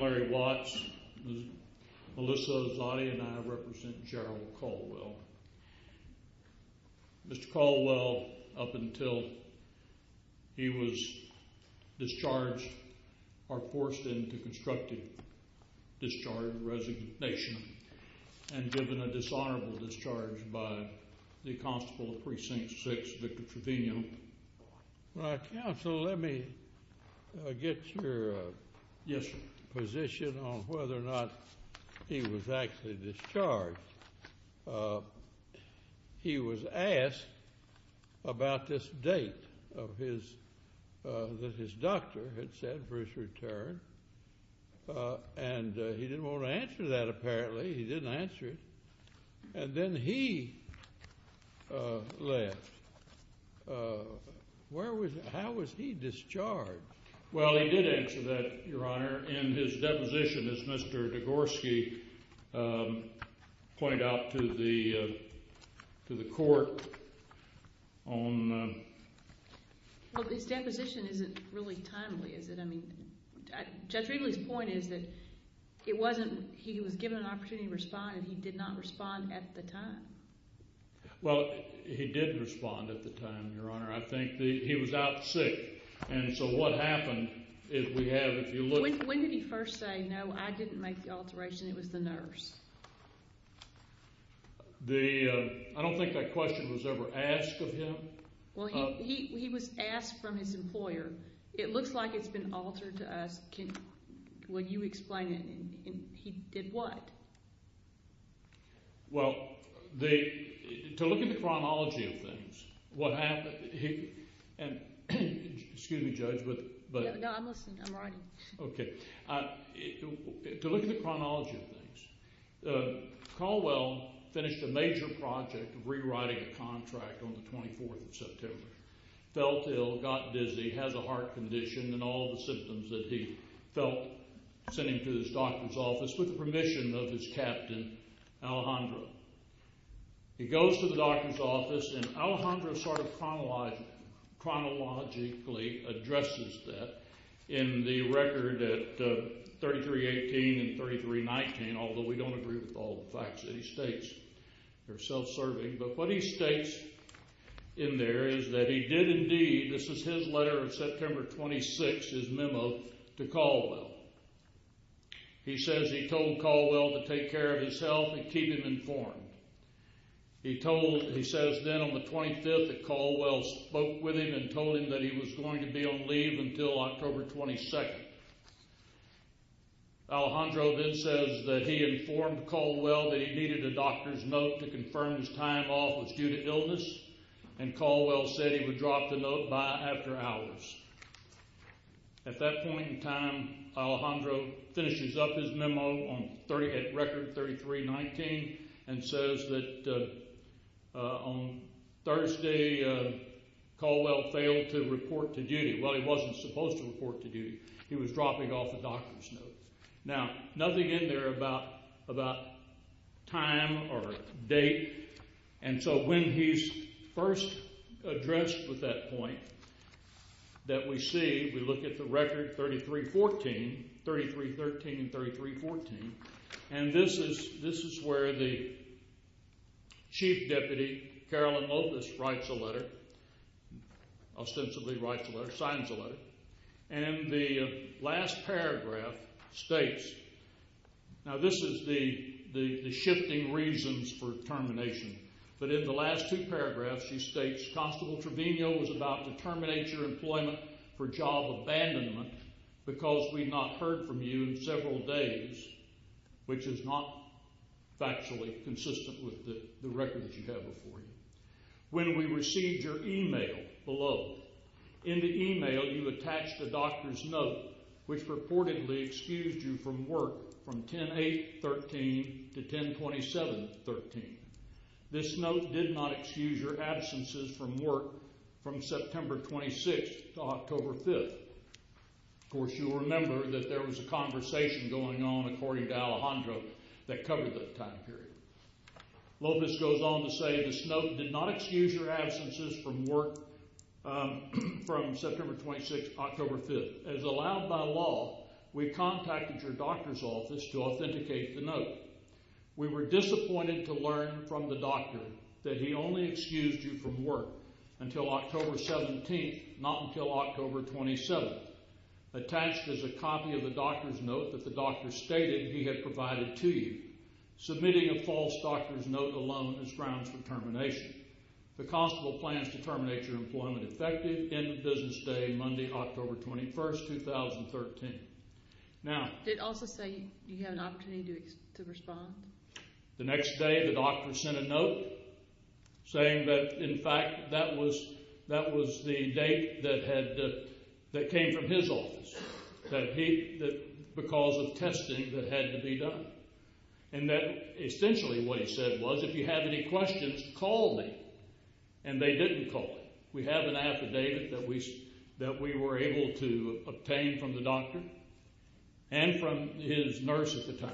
Larry Watts, Melissa Lozani, and I represent Jarrell Caldwell. Mr. Caldwell, up until he was discharged, or forced into constructive discharge, resignation, and given a dishonorable discharge by the Constable of Precinct 6, Victor Trevino. Well, Counsel, let me get your position on whether or not he was actually discharged. He was asked about this date that his doctor had set for his return, and he didn't want to answer that, apparently. He didn't answer it. And then he left. Where was he? How was he discharged? Well, he did answer that, Your Honor, in his deposition, as Mr. Degorski pointed out to the court on... Well, his deposition isn't really timely, is it? I mean, Judge Ridley's point is that he was given an opportunity to respond, and he did not respond at the time. Well, he did respond at the time, Your Honor. I think that he was out sick. And so what happened is we have, if you look... When did he first say, no, I didn't make the alteration, it was the nurse? The... I don't think that question was ever asked of him. I don't know. I don't know. I don't know. I don't know. I don't know. I don't know. Well, I'm not going to give you the details of the alteration, but you can go to a doctor And he does say, you're not the alter to us, but you explained it. And he did what? Well, to look at the chronology of things, what happened... Excuse me, Judge, but... No, I'm listening. I'm writing. Okay. To look at the chronology of things, Caldwell finished a major project of rewriting a contract on the 24th of September. Felt ill, got dizzy, has a heart condition. And all the symptoms that he felt, sent him to his doctor's office with the permission of his captain, Alejandro. He goes to the doctor's office, and Alejandro sort of chronologically addresses that in the record at 3318 and 3319, although we don't agree with all the facts that he states. They're self-serving. But what he states in there is that he did indeed, this is his letter of September 26th, his memo to Caldwell. He says he told Caldwell to take care of his health and keep him informed. He told, he says then on the 25th that Caldwell spoke with him and told him that he was going to be on leave until October 22nd. Alejandro then says that he informed Caldwell that he needed a doctor's note to confirm his time off was due to illness, and Caldwell said he would drop the note by after hours. At that point in time, Alejandro finishes up his memo at record 3319 and says that on Thursday Caldwell failed to report to duty. Well, he wasn't supposed to report to duty. He was dropping off a doctor's note. Now, nothing in there about time or date, and so when he's first addressed with that point that we see, we look at the record 3314, 3313 and 3314, and this is where the Chief Deputy, Carolyn Lopez, writes a letter, ostensibly writes a letter, signs a letter, and the last paragraph states, now this is the shifting reasons for termination, but in the last two paragraphs she states, Constable Trevino was about to terminate your employment for job abandonment because we've not heard from you in several days, which is not factually consistent with the record that you have before you. When we received your email below, in the email you attached a doctor's note, which reportedly excused you from work from 10-8-13 to 10-27-13. This note did not excuse your absences from work from September 26th to October 5th. Of course, you'll remember that there was a conversation going on, according to Alejandro, that covered that time period. Lopez goes on to say, this note did not excuse your absences from work from September 26th to October 5th. As allowed by law, we contacted your doctor's office to authenticate the note. We were disappointed to learn from the doctor that he only excused you from work until October 17th, not until October 27th. Attached is a copy of the doctor's note that the doctor stated he had provided to you. Submitting a false doctor's note alone is grounds for termination. The constable plans to terminate your employment effective, end of business day, Monday, October 21st, 2013. Now- Did it also say you had an opportunity to respond? The next day, the doctor sent a note saying that, in fact, that was the date that came from his office, that because of testing that had to be done. And that essentially what he said was, if you have any questions, call me. And they didn't call me. We have an affidavit that we were able to obtain from the doctor and from his nurse at the time.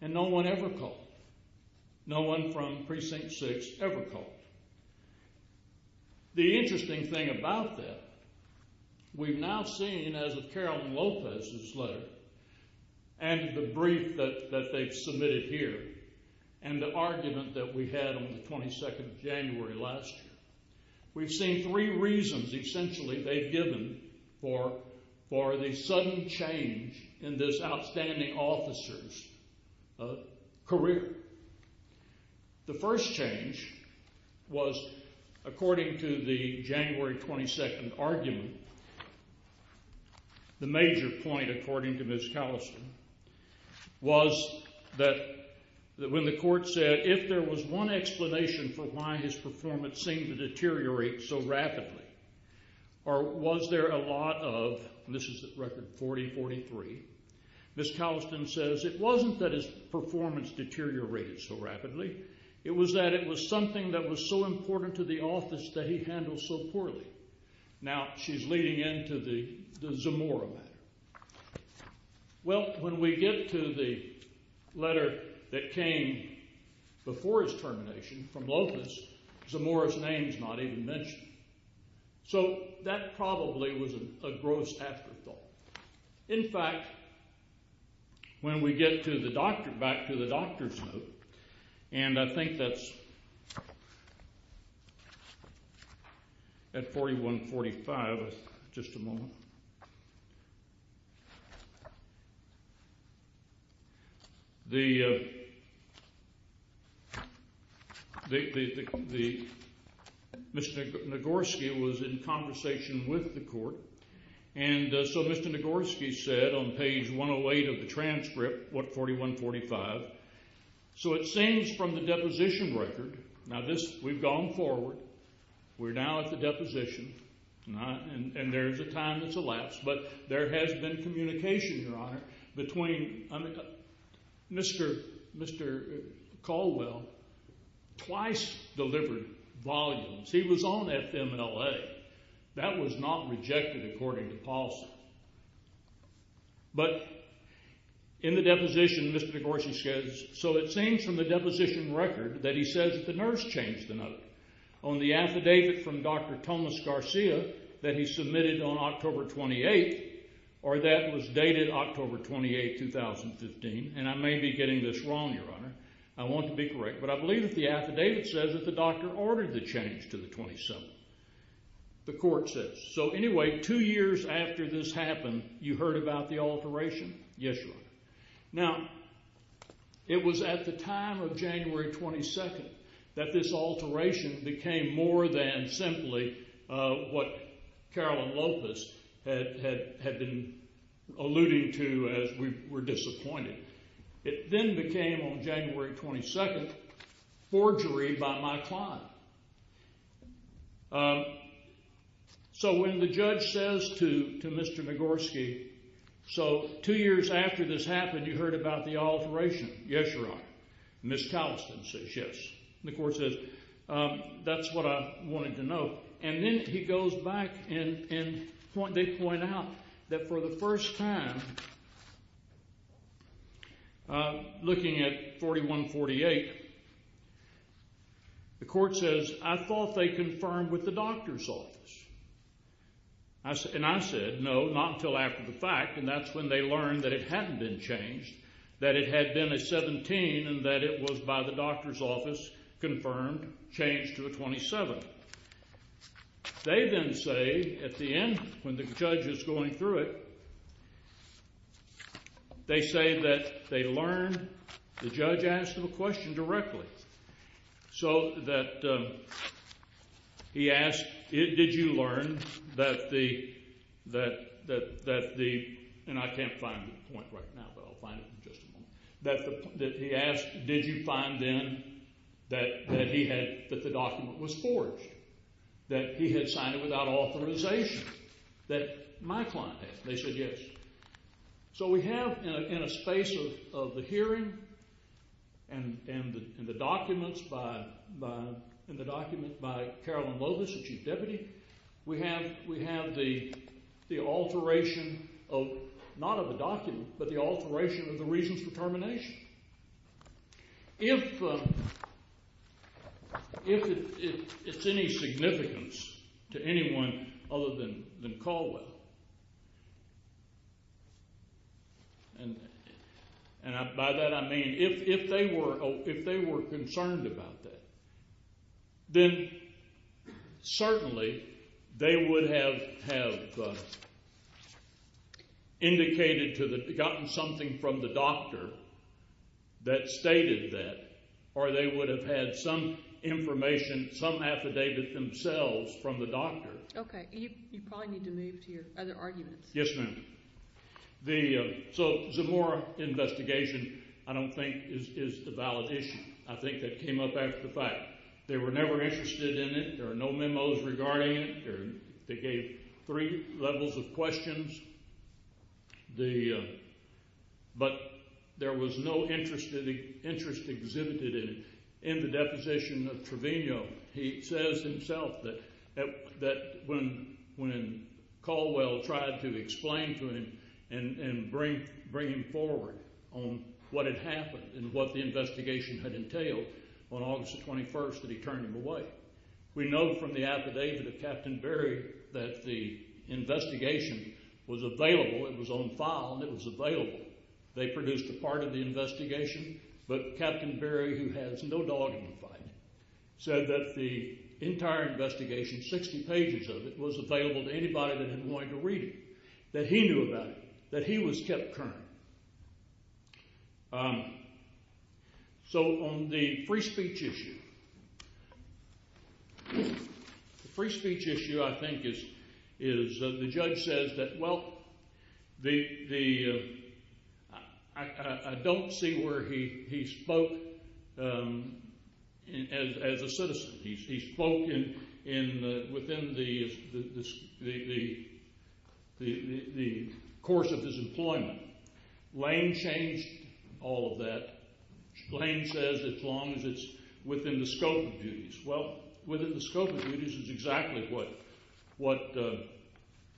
And no one ever called. No one from Precinct 6 ever called. The interesting thing about that, we've now seen, as of Carolyn Lopez's letter, and the brief that they've submitted here, and the argument that we had on the 22nd of January last year, we've seen three reasons, essentially, they've given for the sudden change in this outstanding officer's career. The first change was, according to the January 22nd argument, the major point, according to Ms. Calliston, was that when the court said, if there was one explanation for why his performance seemed to deteriorate so rapidly, or was there a lot of, and this is at record 40-43, Ms. Calliston says, it wasn't that his performance deteriorated so rapidly. It was that it was something that was so important to the office that he handled so poorly. Now she's leading into the Zamora matter. Well, when we get to the letter that came before his termination from Lopez, Zamora's name's not even mentioned. So that probably was a gross afterthought. In fact, when we get to the doctor, back to the doctor's note, and I think that's at 41-45, just a moment, Mr. Nagorski was in conversation with the court, and so Mr. Nagorski said on page 108 of the transcript, what, 41-45, so it seems from the deposition record, now this, we've gone forward, we're now at the deposition, and there's a time that's elapsed, but there has been communication, Your Honor, between, Mr. Caldwell twice delivered volumes. He was on FMLA. That was not rejected according to policy. But in the deposition, Mr. Nagorski says, so it seems from the deposition record that he says that the nurse changed the note on the affidavit from Dr. Tomas Garcia that he submitted on October 28th, or that was dated October 28, 2015, and I may be getting this wrong, Your Honor. I want to be correct, but I believe that the affidavit says that the doctor ordered the change to the 27th, the court says. So anyway, two years after this happened, you heard about the alteration? Yes, Your Honor. Now, it was at the time of January 22nd that this alteration became more than simply what Carolyn Lopez had been alluding to as we were disappointed. It then became, on January 22nd, forgery by my client. So when the judge says to Mr. Nagorski, so two years after this happened, you heard about the alteration? Yes, Your Honor. Ms. Calliston says yes. The court says, that's what I wanted to know. And then he goes back and they point out that for the first time, looking at 4148, the court says, I thought they confirmed with the doctor's office. And I said, no, not until after the fact, and that's when they learned that it hadn't been changed, that it had been a 17 and that it was by the doctor's office confirmed, changed to a 27. They then say, at the end, when the judge is going through it, they say that they learned the judge asked them a question directly. So that he asked, did you learn that the, and I can't find the point right now, but I'll find it in just a moment, that he asked, did you find then that the document was forged, that he had signed it without authorization, that my client had. They said yes. So we have in a space of the hearing and the documents by, in the document by Carolyn Lovis, the chief deputy, we have the alteration of, not of the document, but the alteration If, if it's any significance to anyone other than Caldwell, and by that I mean if they were, if they were concerned about that, then certainly they would have, have indicated to the, gotten something from the doctor that stated that, or they would have had some information, some affidavit themselves from the doctor. Okay. You probably need to move to your other arguments. Yes, ma'am. The, so Zamora investigation, I don't think is a valid issue. I think that came up after the fact. They were never interested in it. There are no memos regarding it. They gave three levels of questions. The, but there was no interest exhibited in the deposition of Trevino. He says himself that when Caldwell tried to explain to him and bring him forward on what had happened and what the investigation had entailed on August the 21st that he turned him away. We know from the affidavit of Captain Berry that the investigation was available, it was on file, and it was available. They produced a part of the investigation, but Captain Berry, who has no dog in the fight, said that the entire investigation, 60 pages of it, was available to anybody that had wanted to read it, that he knew about it, that he was kept current. So on the free speech issue, the free speech issue, I think, is the judge says that, well, the, I don't see where he spoke as a citizen. He spoke in, within the course of his employment. Lane changed all of that. Lane says as long as it's within the scope of duties. Well, within the scope of duties is exactly what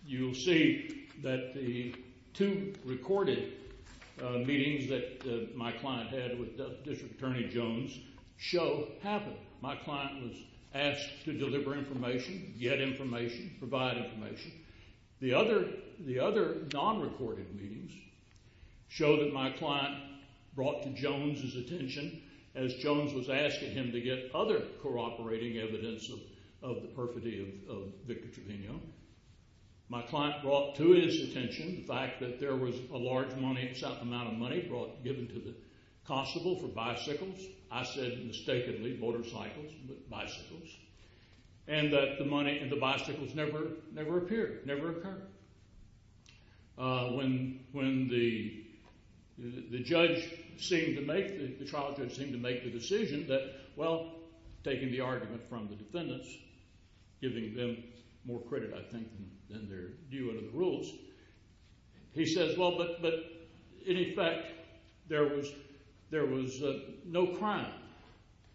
you'll see that the two recorded meetings that my client had with District Attorney Jones show happened. My client was asked to deliver information, get information, provide information. The other non-recorded meetings show that my client brought to Jones' attention as Jones was asking him to get other co-operating evidence of the perfidy of Victor Trevino. My client brought to his attention the fact that there was a large amount of money given to the constable for bicycles. I said mistakenly motorcycles, but bicycles, and that the money and the bicycles never appeared, never occurred. When the judge seemed to make, the trial judge seemed to make the decision that, well, taking the argument from the defendants, giving them more credit, I think, than they're due under the rules, he says, well, but in effect, there was no crime.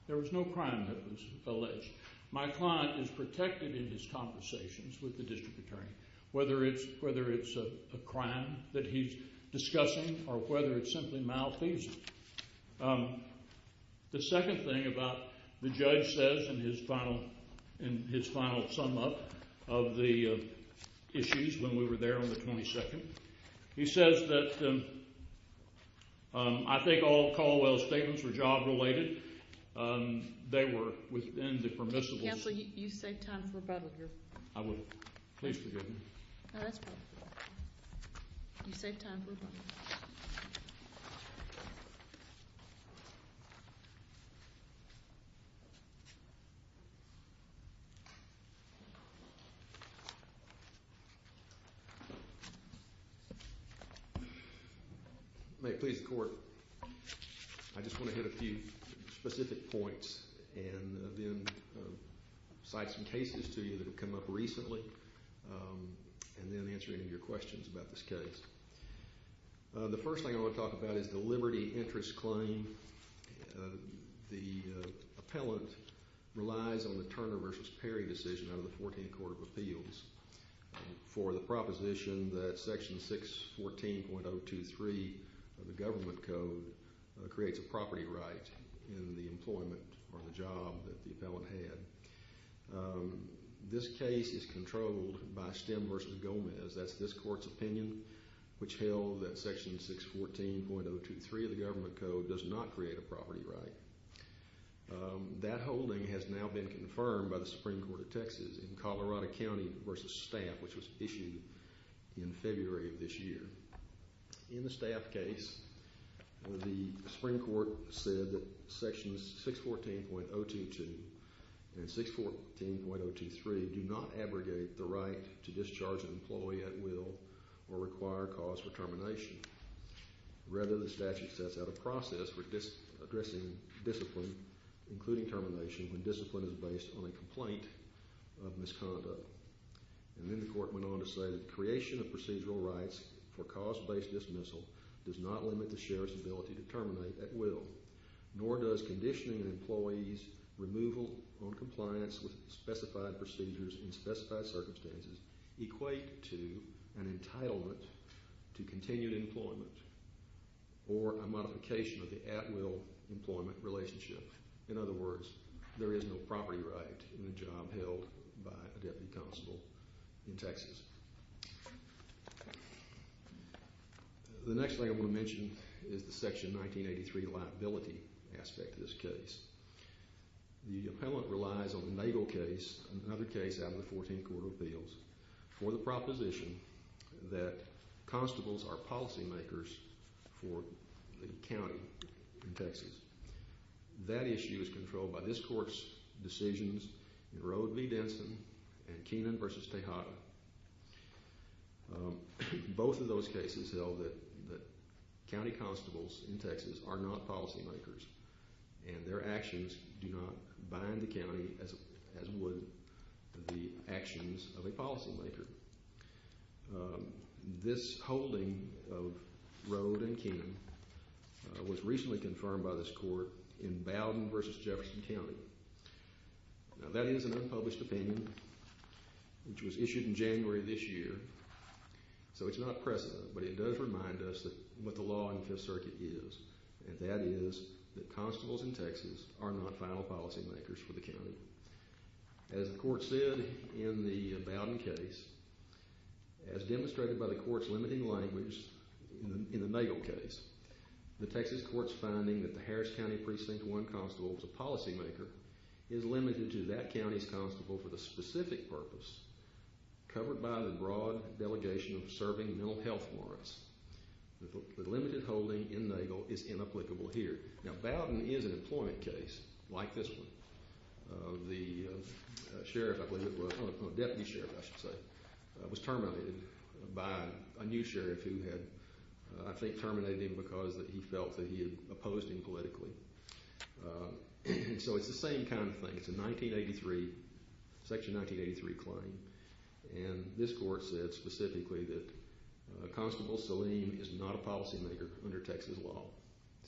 There was no crime that was alleged. My client is protected in his conversations with the District Attorney, whether it's a crime that he's discussing or whether it's simply malfeasance. The second thing about the judge says in his final sum up of the issues when we were there on the 22nd, he says that I think all Caldwell's statements were job-related. They were within the permissible. Counsel, you saved time for rebuttal here. I will. Please forgive me. No, that's fine. You saved time for rebuttal. Thank you. May it please the Court, I just want to hit a few specific points and then cite some cases to you that have come up recently and then answer any of your questions about this case. The first thing I want to talk about is the Liberty Interest Claim. The appellant relies on the Turner v. Perry decision out of the 14th Court of Appeals for the proposition that Section 614.023 of the Government Code creates a property right in the employment or the job that the appellant had. That's this Court's opinion, which held that Section 614.023 of the Government Code does not create a property right. That holding has now been confirmed by the Supreme Court of Texas in Colorado County v. Staff, which was issued in February of this year. In the Staff case, the Supreme Court said that Sections 614.022 and 614.023 do not abrogate the right to discharge an employee at will or require cause for termination. Rather, the statute sets out a process for addressing discipline, including termination, when discipline is based on a complaint of misconduct. And then the Court went on to say that the creation of procedural rights for cause-based dismissal does not limit the sheriff's ability to terminate at will, nor does conditioning an employee's removal on compliance with specified procedures in specified circumstances equate to an entitlement to continued employment or a modification of the at-will employment relationship. In other words, there is no property right in the job held by a deputy constable in Texas. The next thing I want to mention is the Section 1983 liability aspect of this case. The appellant relies on the Nagel case, another case out of the 14th Court of Appeals, for the proposition that constables are policy makers for the county in Texas. That issue is controlled by this Court's decisions in Rode v. Denson and Keenan v. Tejada. Both of those cases held that county constables in Texas are not policy makers and their actions do not bind the county as would the actions of a policy maker. This holding of Rode and Keenan was recently confirmed by this Court in Bowden v. Jefferson County. Now that is an unpublished opinion, which was issued in January of this year, so it's not pressing, but it does remind us what the law in the Fifth Circuit is, and that is that constables in Texas are not final policy makers for the county. As the Court said in the Bowden case, as demonstrated by the Court's limiting language in the Nagel case, the Texas Court's finding that the Harris County Precinct 1 constable was a policy maker is limited to that county's constable for the specific purpose covered by the broad delegation of serving mental health warrants. The limited holding in Nagel is inapplicable here. Now Bowden is an employment case like this one. The sheriff, I believe it was, or the deputy sheriff, I should say, was terminated by a new sheriff who had, I think, terminated him because he felt that he had opposed him politically. So it's the same kind of thing. It's a 1983, Section 1983 claim, and this Court said specifically that Constable Salim is not a policy maker under Texas law.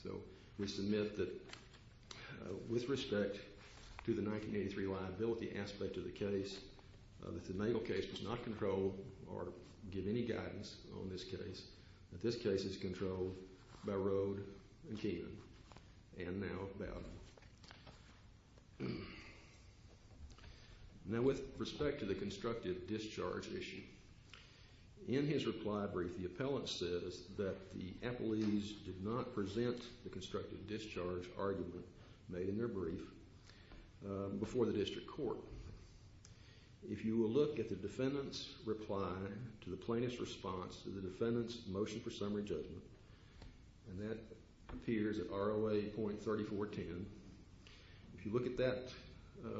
So we submit that with respect to the 1983 liability aspect of the case, that the Nagel case does not control or give any guidance on this case, that this case is controlled by Rode and Keenan, and now Bowden. Now with respect to the constructive discharge issue, in his reply brief, the appellant says that the appellees did not present the constructive discharge argument made in their brief before the district court. If you will look at the defendant's reply to the plaintiff's response to the defendant's motion for summary judgment, and that appears at ROA.3410, if you look at that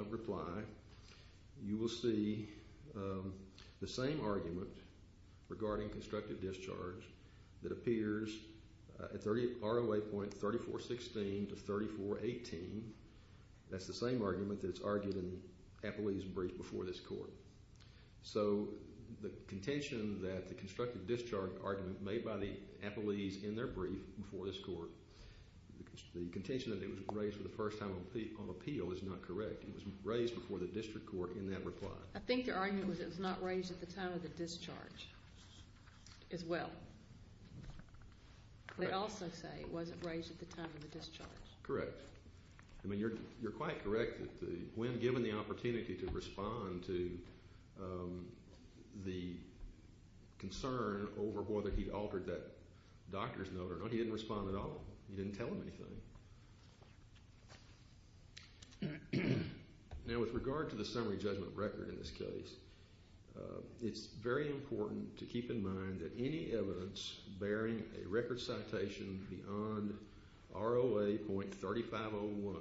reply, you will see the same argument regarding constructive discharge that appears at ROA.3416 to 3418. That's the same argument that's argued in the appellee's brief before this Court. So the contention that the constructive discharge argument made by the appellees in their brief before this Court, the contention that it was raised for the first time on appeal is not correct. It was raised before the district court in that reply. I think their argument was it was not raised at the time of the discharge as well. They also say it wasn't raised at the time of the discharge. Correct. I mean, you're quite correct that when given the opportunity to respond to the concern over whether he'd altered that doctor's note or not, he didn't respond at all. He didn't tell them anything. Now, with regard to the summary judgment record in this case, it's very important to keep in mind that any evidence bearing a record citation beyond ROA.3501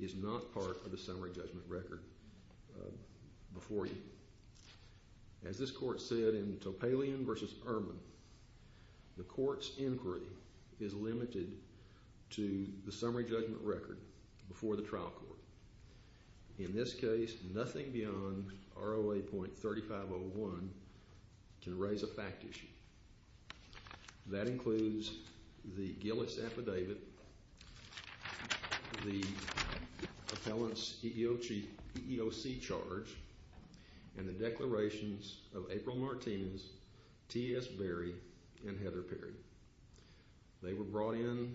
is not part of the summary judgment record before you. As this Court said in Topalian v. Erman, the Court's inquiry is limited to the summary judgment record before the trial court. In this case, nothing beyond ROA.3501 can raise a fact issue. That includes the Gillis affidavit, the appellant's EEOC charge, and the declarations of April Martinez, T.S. Berry, and Heather Perry. They were brought in,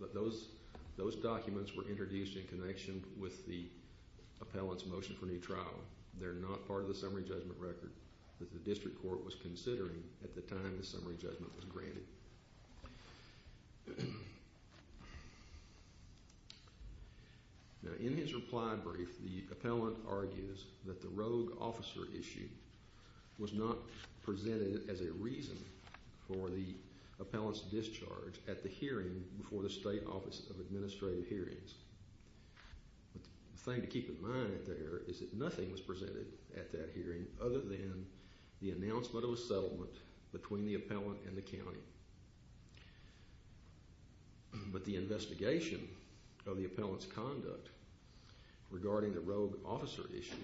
but those documents were introduced in connection with the appellant's motion for new trial. They're not part of the summary judgment record that the district court was considering at the time the summary judgment was granted. Now, in his reply brief, the appellant argues that the rogue officer issue was not presented as a reason for the appellant's discharge at the hearing before the State Office of Administrative Hearings. The thing to keep in mind there is that nothing was presented at that hearing other than the announcement of a settlement between the appellant and the county. But the investigation of the appellant's conduct regarding the rogue officer issue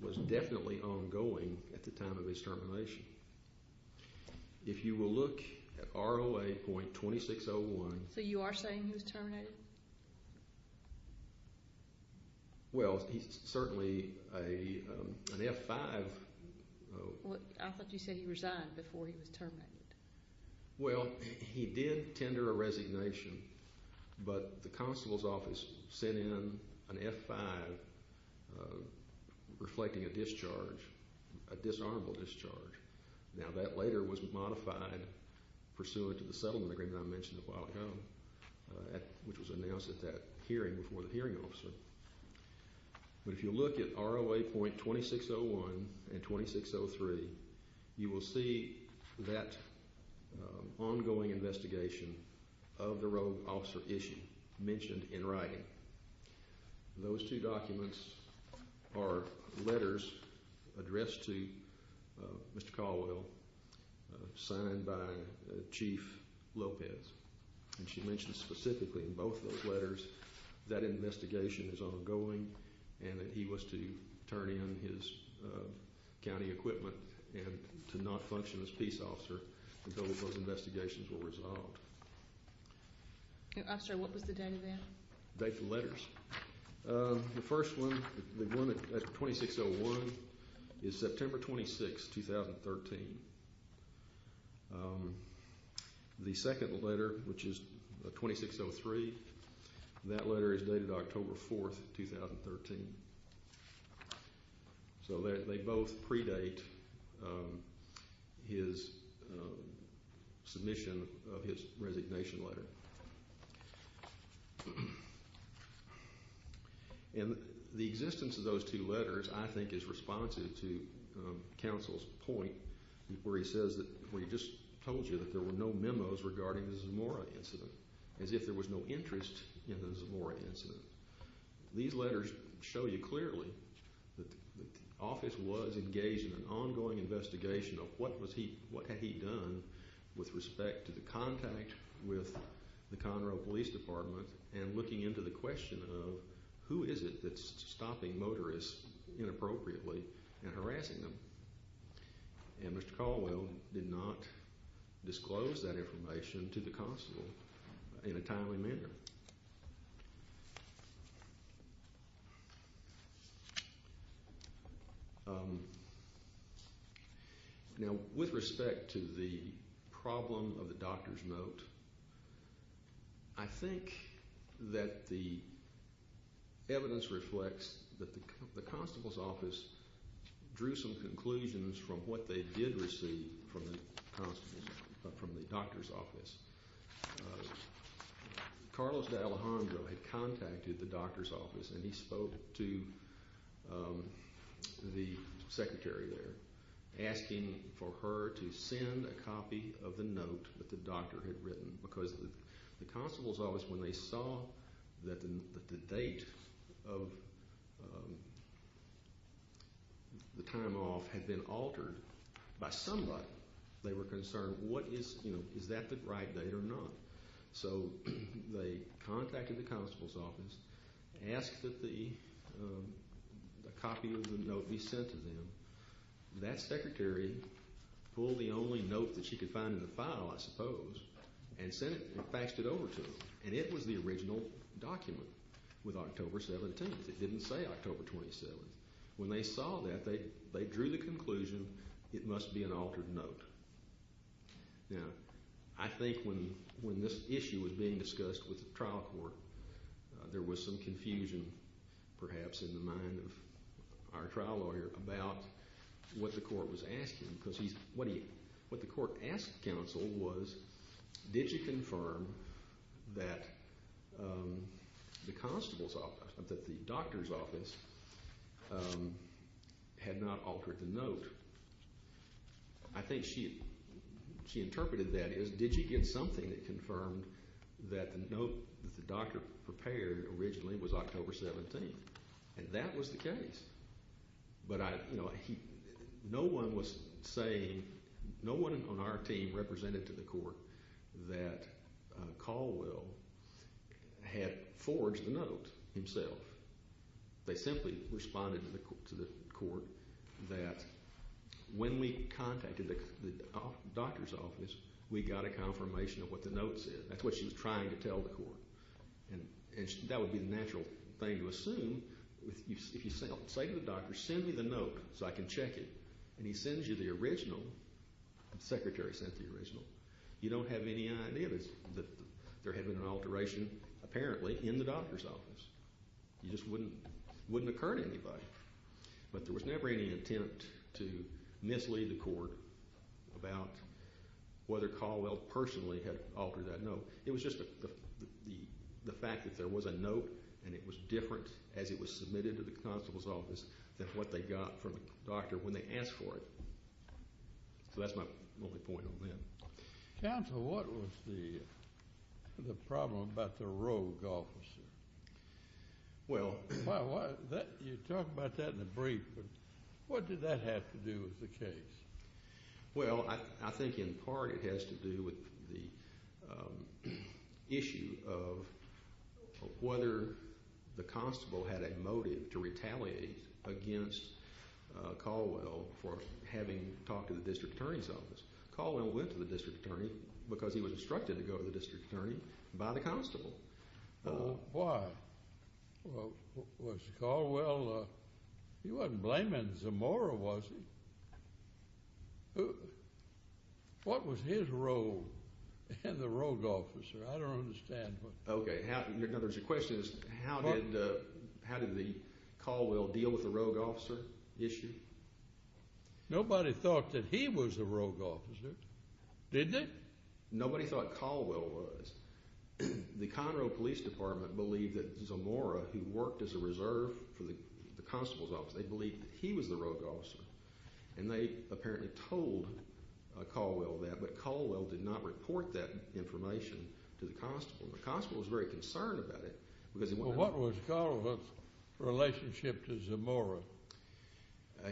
was definitely ongoing at the time of his termination. If you will look at ROA.2601... So you are saying he was terminated? Well, he's certainly an F-5. I thought you said he resigned before he was terminated. Well, he did tender a resignation, but the constable's office sent in an F-5 reflecting a discharge, a disarmable discharge. Now, that later was modified pursuant to the settlement agreement that I mentioned a while ago, which was announced at that hearing before the hearing officer. But if you look at ROA.2601 and 2603, you will see that ongoing investigation of the rogue officer issue mentioned in writing. Those two documents are letters addressed to Mr. Caldwell signed by Chief Lopez. And she mentioned specifically in both those letters that investigation is ongoing and that he was to turn in his county equipment and to not function as peace officer until those investigations were resolved. I'm sorry, what was the date of that? The date of the letters. The first one, the one at 2601, is September 26, 2013. The second letter, which is 2603, that letter is dated October 4, 2013. So they both predate his submission of his resignation letter. And the existence of those two letters, I think, is responsive to counsel's point where he says that we just told you that there were no memos regarding the Zamora incident, as if there was no interest in the Zamora incident. These letters show you clearly that the office was engaged in an ongoing investigation of what had he done with respect to the contact with the Conroe Police Department and looking into the question of who is it that's stopping motorists inappropriately and harassing them. And Mr. Caldwell did not disclose that information to the counsel in a timely manner. Now, with respect to the problem of the doctor's note, I think that the evidence reflects that the constable's office drew some conclusions from what they did receive from the doctor's office. Carlos D'Alejandro had contacted the doctor's office, and he spoke to the secretary there, asking for her to send a copy of the note that the doctor had written because the constable's office, when they saw that the date of the time off had been altered by somebody, they were concerned, is that the right date or not? So they contacted the constable's office, asked that a copy of the note be sent to them. That secretary pulled the only note that she could find in the file, I suppose, and faxed it over to them. And it was the original document with October 17th. It didn't say October 27th. When they saw that, they drew the conclusion it must be an altered note. Now, I think when this issue was being discussed with the trial court, there was some confusion perhaps in the mind of our trial lawyer about what the court was asking because what the court asked counsel was, did you confirm that the doctor's office had not altered the note? I think she interpreted that as, did you get something that confirmed that the note that the doctor prepared originally was October 17th? And that was the case. But no one was saying, no one on our team represented to the court that Caldwell had forged the note himself. They simply responded to the court that when we contacted the doctor's office, we got a confirmation of what the note said. That's what she was trying to tell the court. And that would be the natural thing to assume. If you say to the doctor, send me the note so I can check it, and he sends you the original, the secretary sent the original, you don't have any idea that there had been an alteration apparently in the doctor's office. It just wouldn't occur to anybody. But there was never any intent to mislead the court about whether Caldwell personally had altered that note. It was just the fact that there was a note, and it was different as it was submitted to the constable's office than what they got from the doctor when they asked for it. So that's my only point on them. Counsel, what was the problem about the rogue officer? Well, you talk about that in the brief, but what did that have to do with the case? Well, I think in part it has to do with the issue of whether the constable had a motive to retaliate against Caldwell for having talked to the district attorney's office. Caldwell went to the district attorney because he was instructed to go to the district attorney by the constable. Why? Well, was Caldwell—he wasn't blaming Zamora, was he? What was his role in the rogue officer? I don't understand. Okay. In other words, the question is how did Caldwell deal with the rogue officer issue? Nobody thought that he was the rogue officer, didn't they? Nobody thought Caldwell was. The Conroe Police Department believed that Zamora, who worked as a reserve for the constable's office, they believed that he was the rogue officer. And they apparently told Caldwell that, but Caldwell did not report that information to the constable. The constable was very concerned about it because he wanted— Well, what was Caldwell's relationship to Zamora?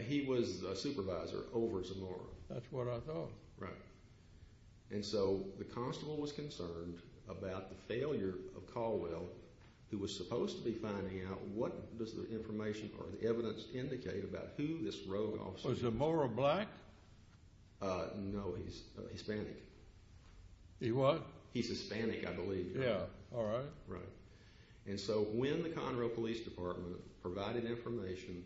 He was a supervisor over Zamora. That's what I thought. Right. And so the constable was concerned about the failure of Caldwell, who was supposed to be finding out what does the information or the evidence indicate about who this rogue officer was. Was Zamora black? No, he's Hispanic. He what? He's Hispanic, I believe. Yeah. All right. Right. And so when the Conroe Police Department provided information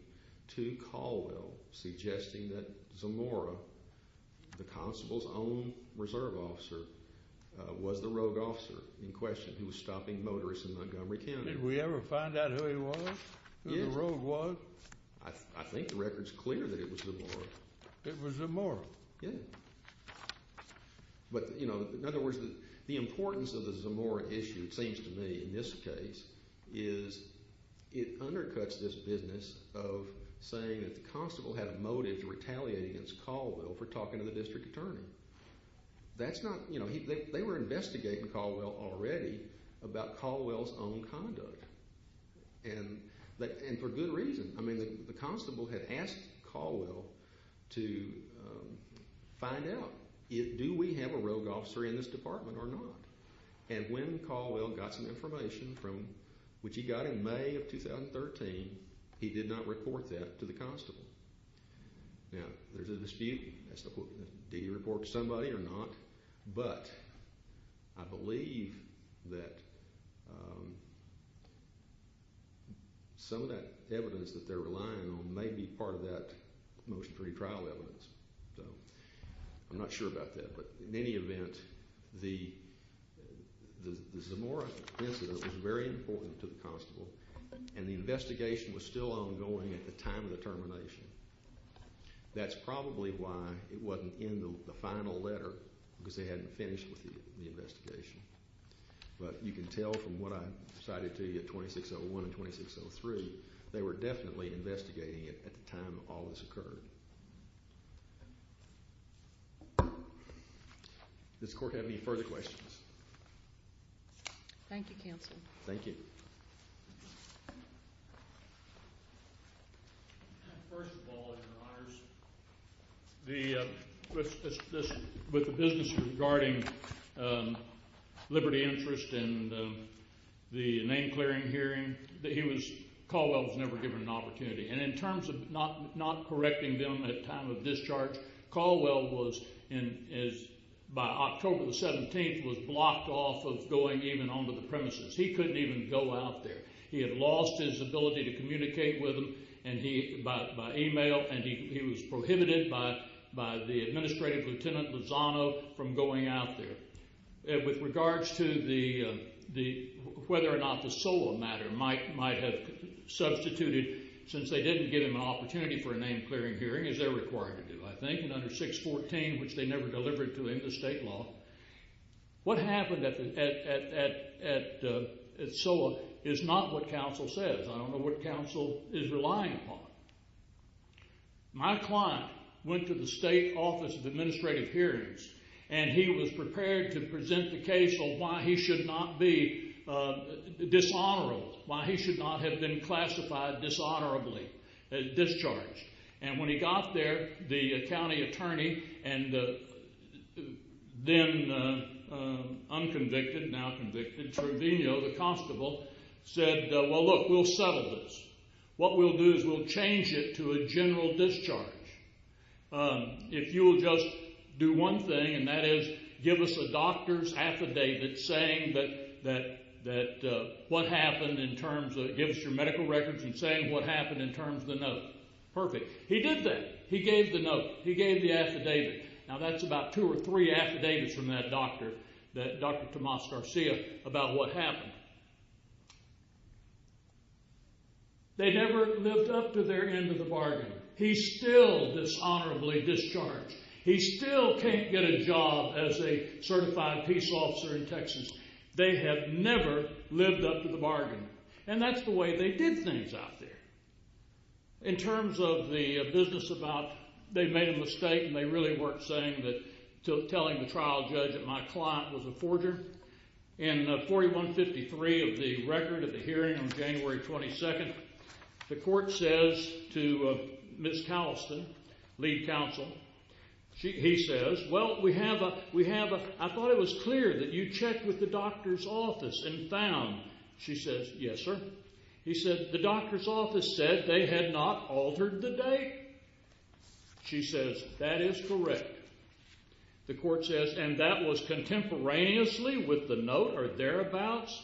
to Caldwell suggesting that Zamora, the constable's own reserve officer, was the rogue officer in question who was stopping motorists in Montgomery County. Did we ever find out who he was, who the rogue was? I think the record's clear that it was Zamora. It was Zamora? Yeah. But, you know, in other words, the importance of the Zamora issue, it seems to me in this case, is it undercuts this business of saying that the constable had a motive to retaliate against Caldwell for talking to the district attorney. That's not, you know, they were investigating Caldwell already about Caldwell's own conduct, and for good reason. I mean, the constable had asked Caldwell to find out, do we have a rogue officer in this department or not? And when Caldwell got some information, which he got in May of 2013, he did not report that to the constable. Now, there's a dispute as to did he report to somebody or not, but I believe that some of that evidence that they're relying on may be part of that motion for retrial evidence. So I'm not sure about that. But in any event, the Zamora incident was very important to the constable, and the investigation was still ongoing at the time of the termination. That's probably why it wasn't in the final letter, because they hadn't finished with the investigation. But you can tell from what I cited to you at 2601 and 2603, they were definitely investigating it at the time all this occurred. Does the Court have any further questions? Thank you, Counsel. Thank you. First of all, Your Honors, with the business regarding liberty interest and the name-clearing hearing, Caldwell was never given an opportunity. And in terms of not correcting them at time of discharge, Caldwell was, by October 17th, was blocked off of going even onto the premises. He couldn't even go out there. He had lost his ability to communicate with them by email, and he was prohibited by the Administrative Lieutenant Lozano from going out there. With regards to whether or not the SOA matter might have substituted, since they didn't give him an opportunity for a name-clearing hearing, as they're required to do, I think, under 614, which they never delivered to him, the state law, what happened at SOA is not what counsel says. I don't know what counsel is relying upon. My client went to the State Office of Administrative Hearings, and he was prepared to present the case of why he should not be dishonorable, why he should not have been classified dishonorably, discharged. And when he got there, the county attorney and then unconvicted, now convicted, Truvino, the constable, said, well, look, we'll settle this. What we'll do is we'll change it to a general discharge. If you will just do one thing, and that is give us a doctor's affidavit saying that what happened in terms of give us your medical records and saying what happened in terms of the note. Perfect. He did that. He gave the note. He gave the affidavit. Now, that's about two or three affidavits from that doctor, that Dr. Tomas Garcia, about what happened. They never lived up to their end of the bargain. He's still dishonorably discharged. He still can't get a job as a certified peace officer in Texas. They have never lived up to the bargain. And that's the way they did things out there. In terms of the business about they made a mistake and they really weren't saying that telling the trial judge that my client was a forger, in 4153 of the record of the hearing on January 22nd, the court says to Ms. Towson, lead counsel, he says, well, we have a, I thought it was clear that you checked with the doctor's office and found. She says, yes, sir. He said, the doctor's office said they had not altered the date. She says, that is correct. The court says, and that was contemporaneously with the note or thereabouts?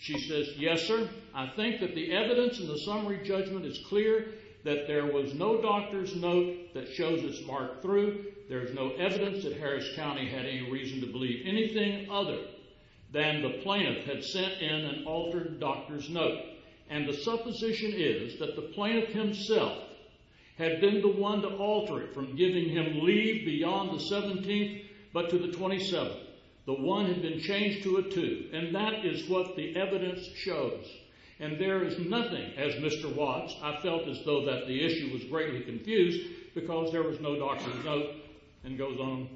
She says, yes, sir. I think that the evidence in the summary judgment is clear that there was no doctor's note that shows it's marked through. There's no evidence that Harris County had any reason to believe anything other than the plaintiff had sent in an altered doctor's note. And the supposition is that the plaintiff himself had been the one to alter it from giving him leave beyond the 17th but to the 27th. The one had been changed to a two. And that is what the evidence shows. And there is nothing, as Mr. Watts, I felt as though that the issue was greatly confused because there was no doctor's note and goes on.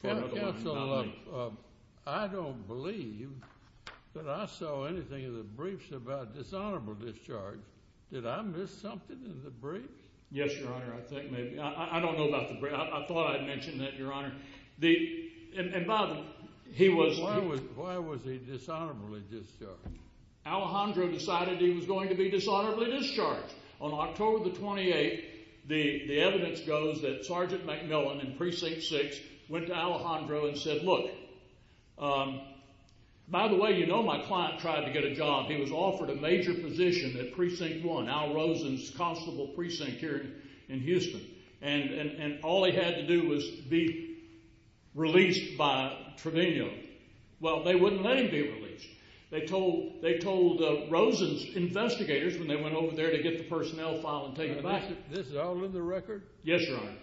Court counsel, I don't believe that I saw anything in the briefs about dishonorable discharge. Did I miss something in the briefs? Yes, Your Honor, I think maybe. I don't know about the briefs. I thought I mentioned that, Your Honor. And by the way, he was— Why was he dishonorably discharged? Alejandro decided he was going to be dishonorably discharged. On October the 28th, the evidence goes that Sergeant McMillan in Precinct 6 went to Alejandro and said, look, by the way, you know my client tried to get a job. He was offered a major position at Precinct 1, Al Rosen's constable precinct here in Houston. And all he had to do was be released by Trevino. Well, they wouldn't let him be released. They told Rosen's investigators when they went over there to get the personnel file and take it back. This is all in the record? Yes, Your Honor.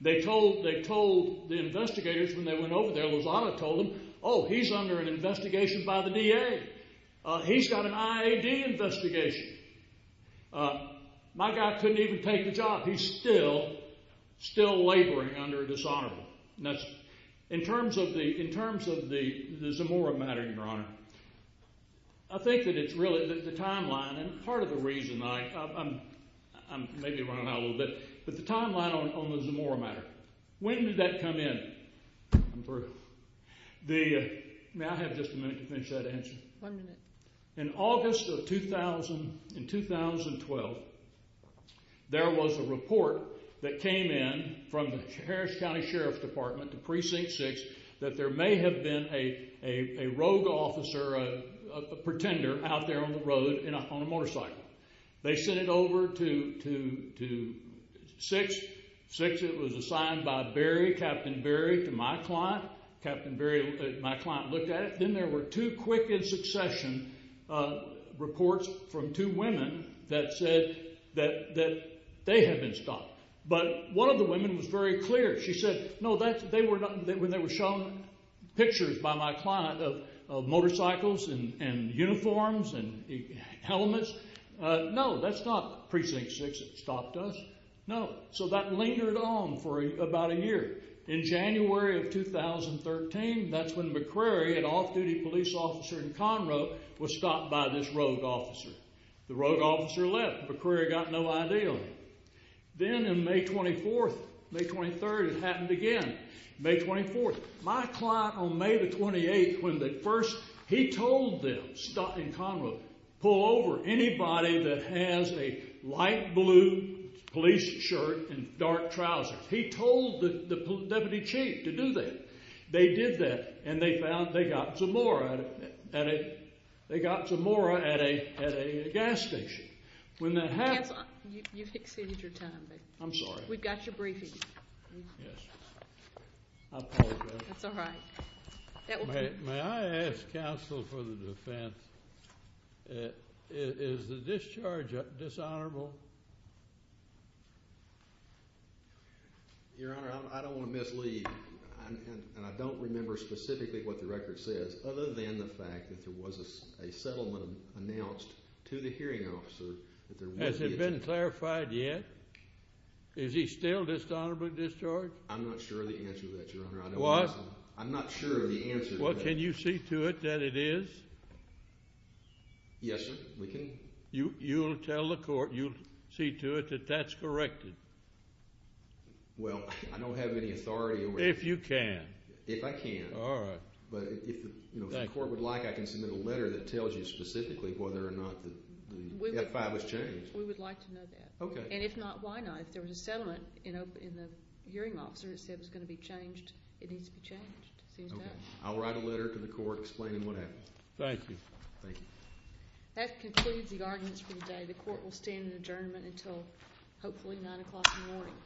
They told the investigators when they went over there, Lozada told them, oh, he's under an investigation by the DA. He's got an IAD investigation. My guy couldn't even take the job. He's still laboring under dishonorable. In terms of the Zamora matter, Your Honor, I think that it's really the timeline and part of the reason I'm— I may be running out a little bit, but the timeline on the Zamora matter. When did that come in? I'm through. May I have just a minute to finish that answer? One minute. In August of 2012, there was a report that came in from the Harris County Sheriff's Department to Precinct 6 that there may have been a rogue officer, a pretender out there on the road on a motorcycle. They sent it over to 6. 6, it was assigned by Barry, Captain Barry, to my client. Captain Barry, my client, looked at it. Then there were two quick in succession reports from two women that said that they had been stopped. But one of the women was very clear. She said, no, that's—they were—when they were shown pictures by my client of motorcycles and uniforms and helmets, no, that's not Precinct 6 that stopped us. No. So that lingered on for about a year. In January of 2013, that's when McCrary, an off-duty police officer in Conroe, was stopped by this rogue officer. The rogue officer left. McCrary got no idea. Then in May 24th, May 23rd, it happened again. May 24th. My client, on May the 28th, when the first—he told them, in Conroe, pull over anybody that has a light blue police shirt and dark trousers. He told the deputy chief to do that. They did that, and they found they got Zamora at a—they got Zamora at a gas station. When that happened— You've exceeded your time. I'm sorry. We've got your briefing. Yes. I apologize. That's all right. May I ask counsel for the defense? Is the discharge dishonorable? Your Honor, I don't want to mislead, and I don't remember specifically what the record says, other than the fact that there was a settlement announced to the hearing officer that there would be a— Has it been clarified yet? Is he still dishonorably discharged? I'm not sure of the answer to that, Your Honor. What? I'm not sure of the answer to that. Well, can you see to it that it is? Yes, sir. We can. You'll tell the court—you'll see to it that that's corrected. Well, I don't have any authority over it. If you can. If I can. All right. But if the court would like, I can submit a letter that tells you specifically whether or not the F-5 was changed. We would like to know that. Okay. And if not, why not? If there was a settlement in the hearing officer that said it was going to be changed, it needs to be changed. Okay. I'll write a letter to the court explaining what happened. Thank you. Thank you. That concludes the arguments for today. The court will stand in adjournment until hopefully 9 o'clock in the morning.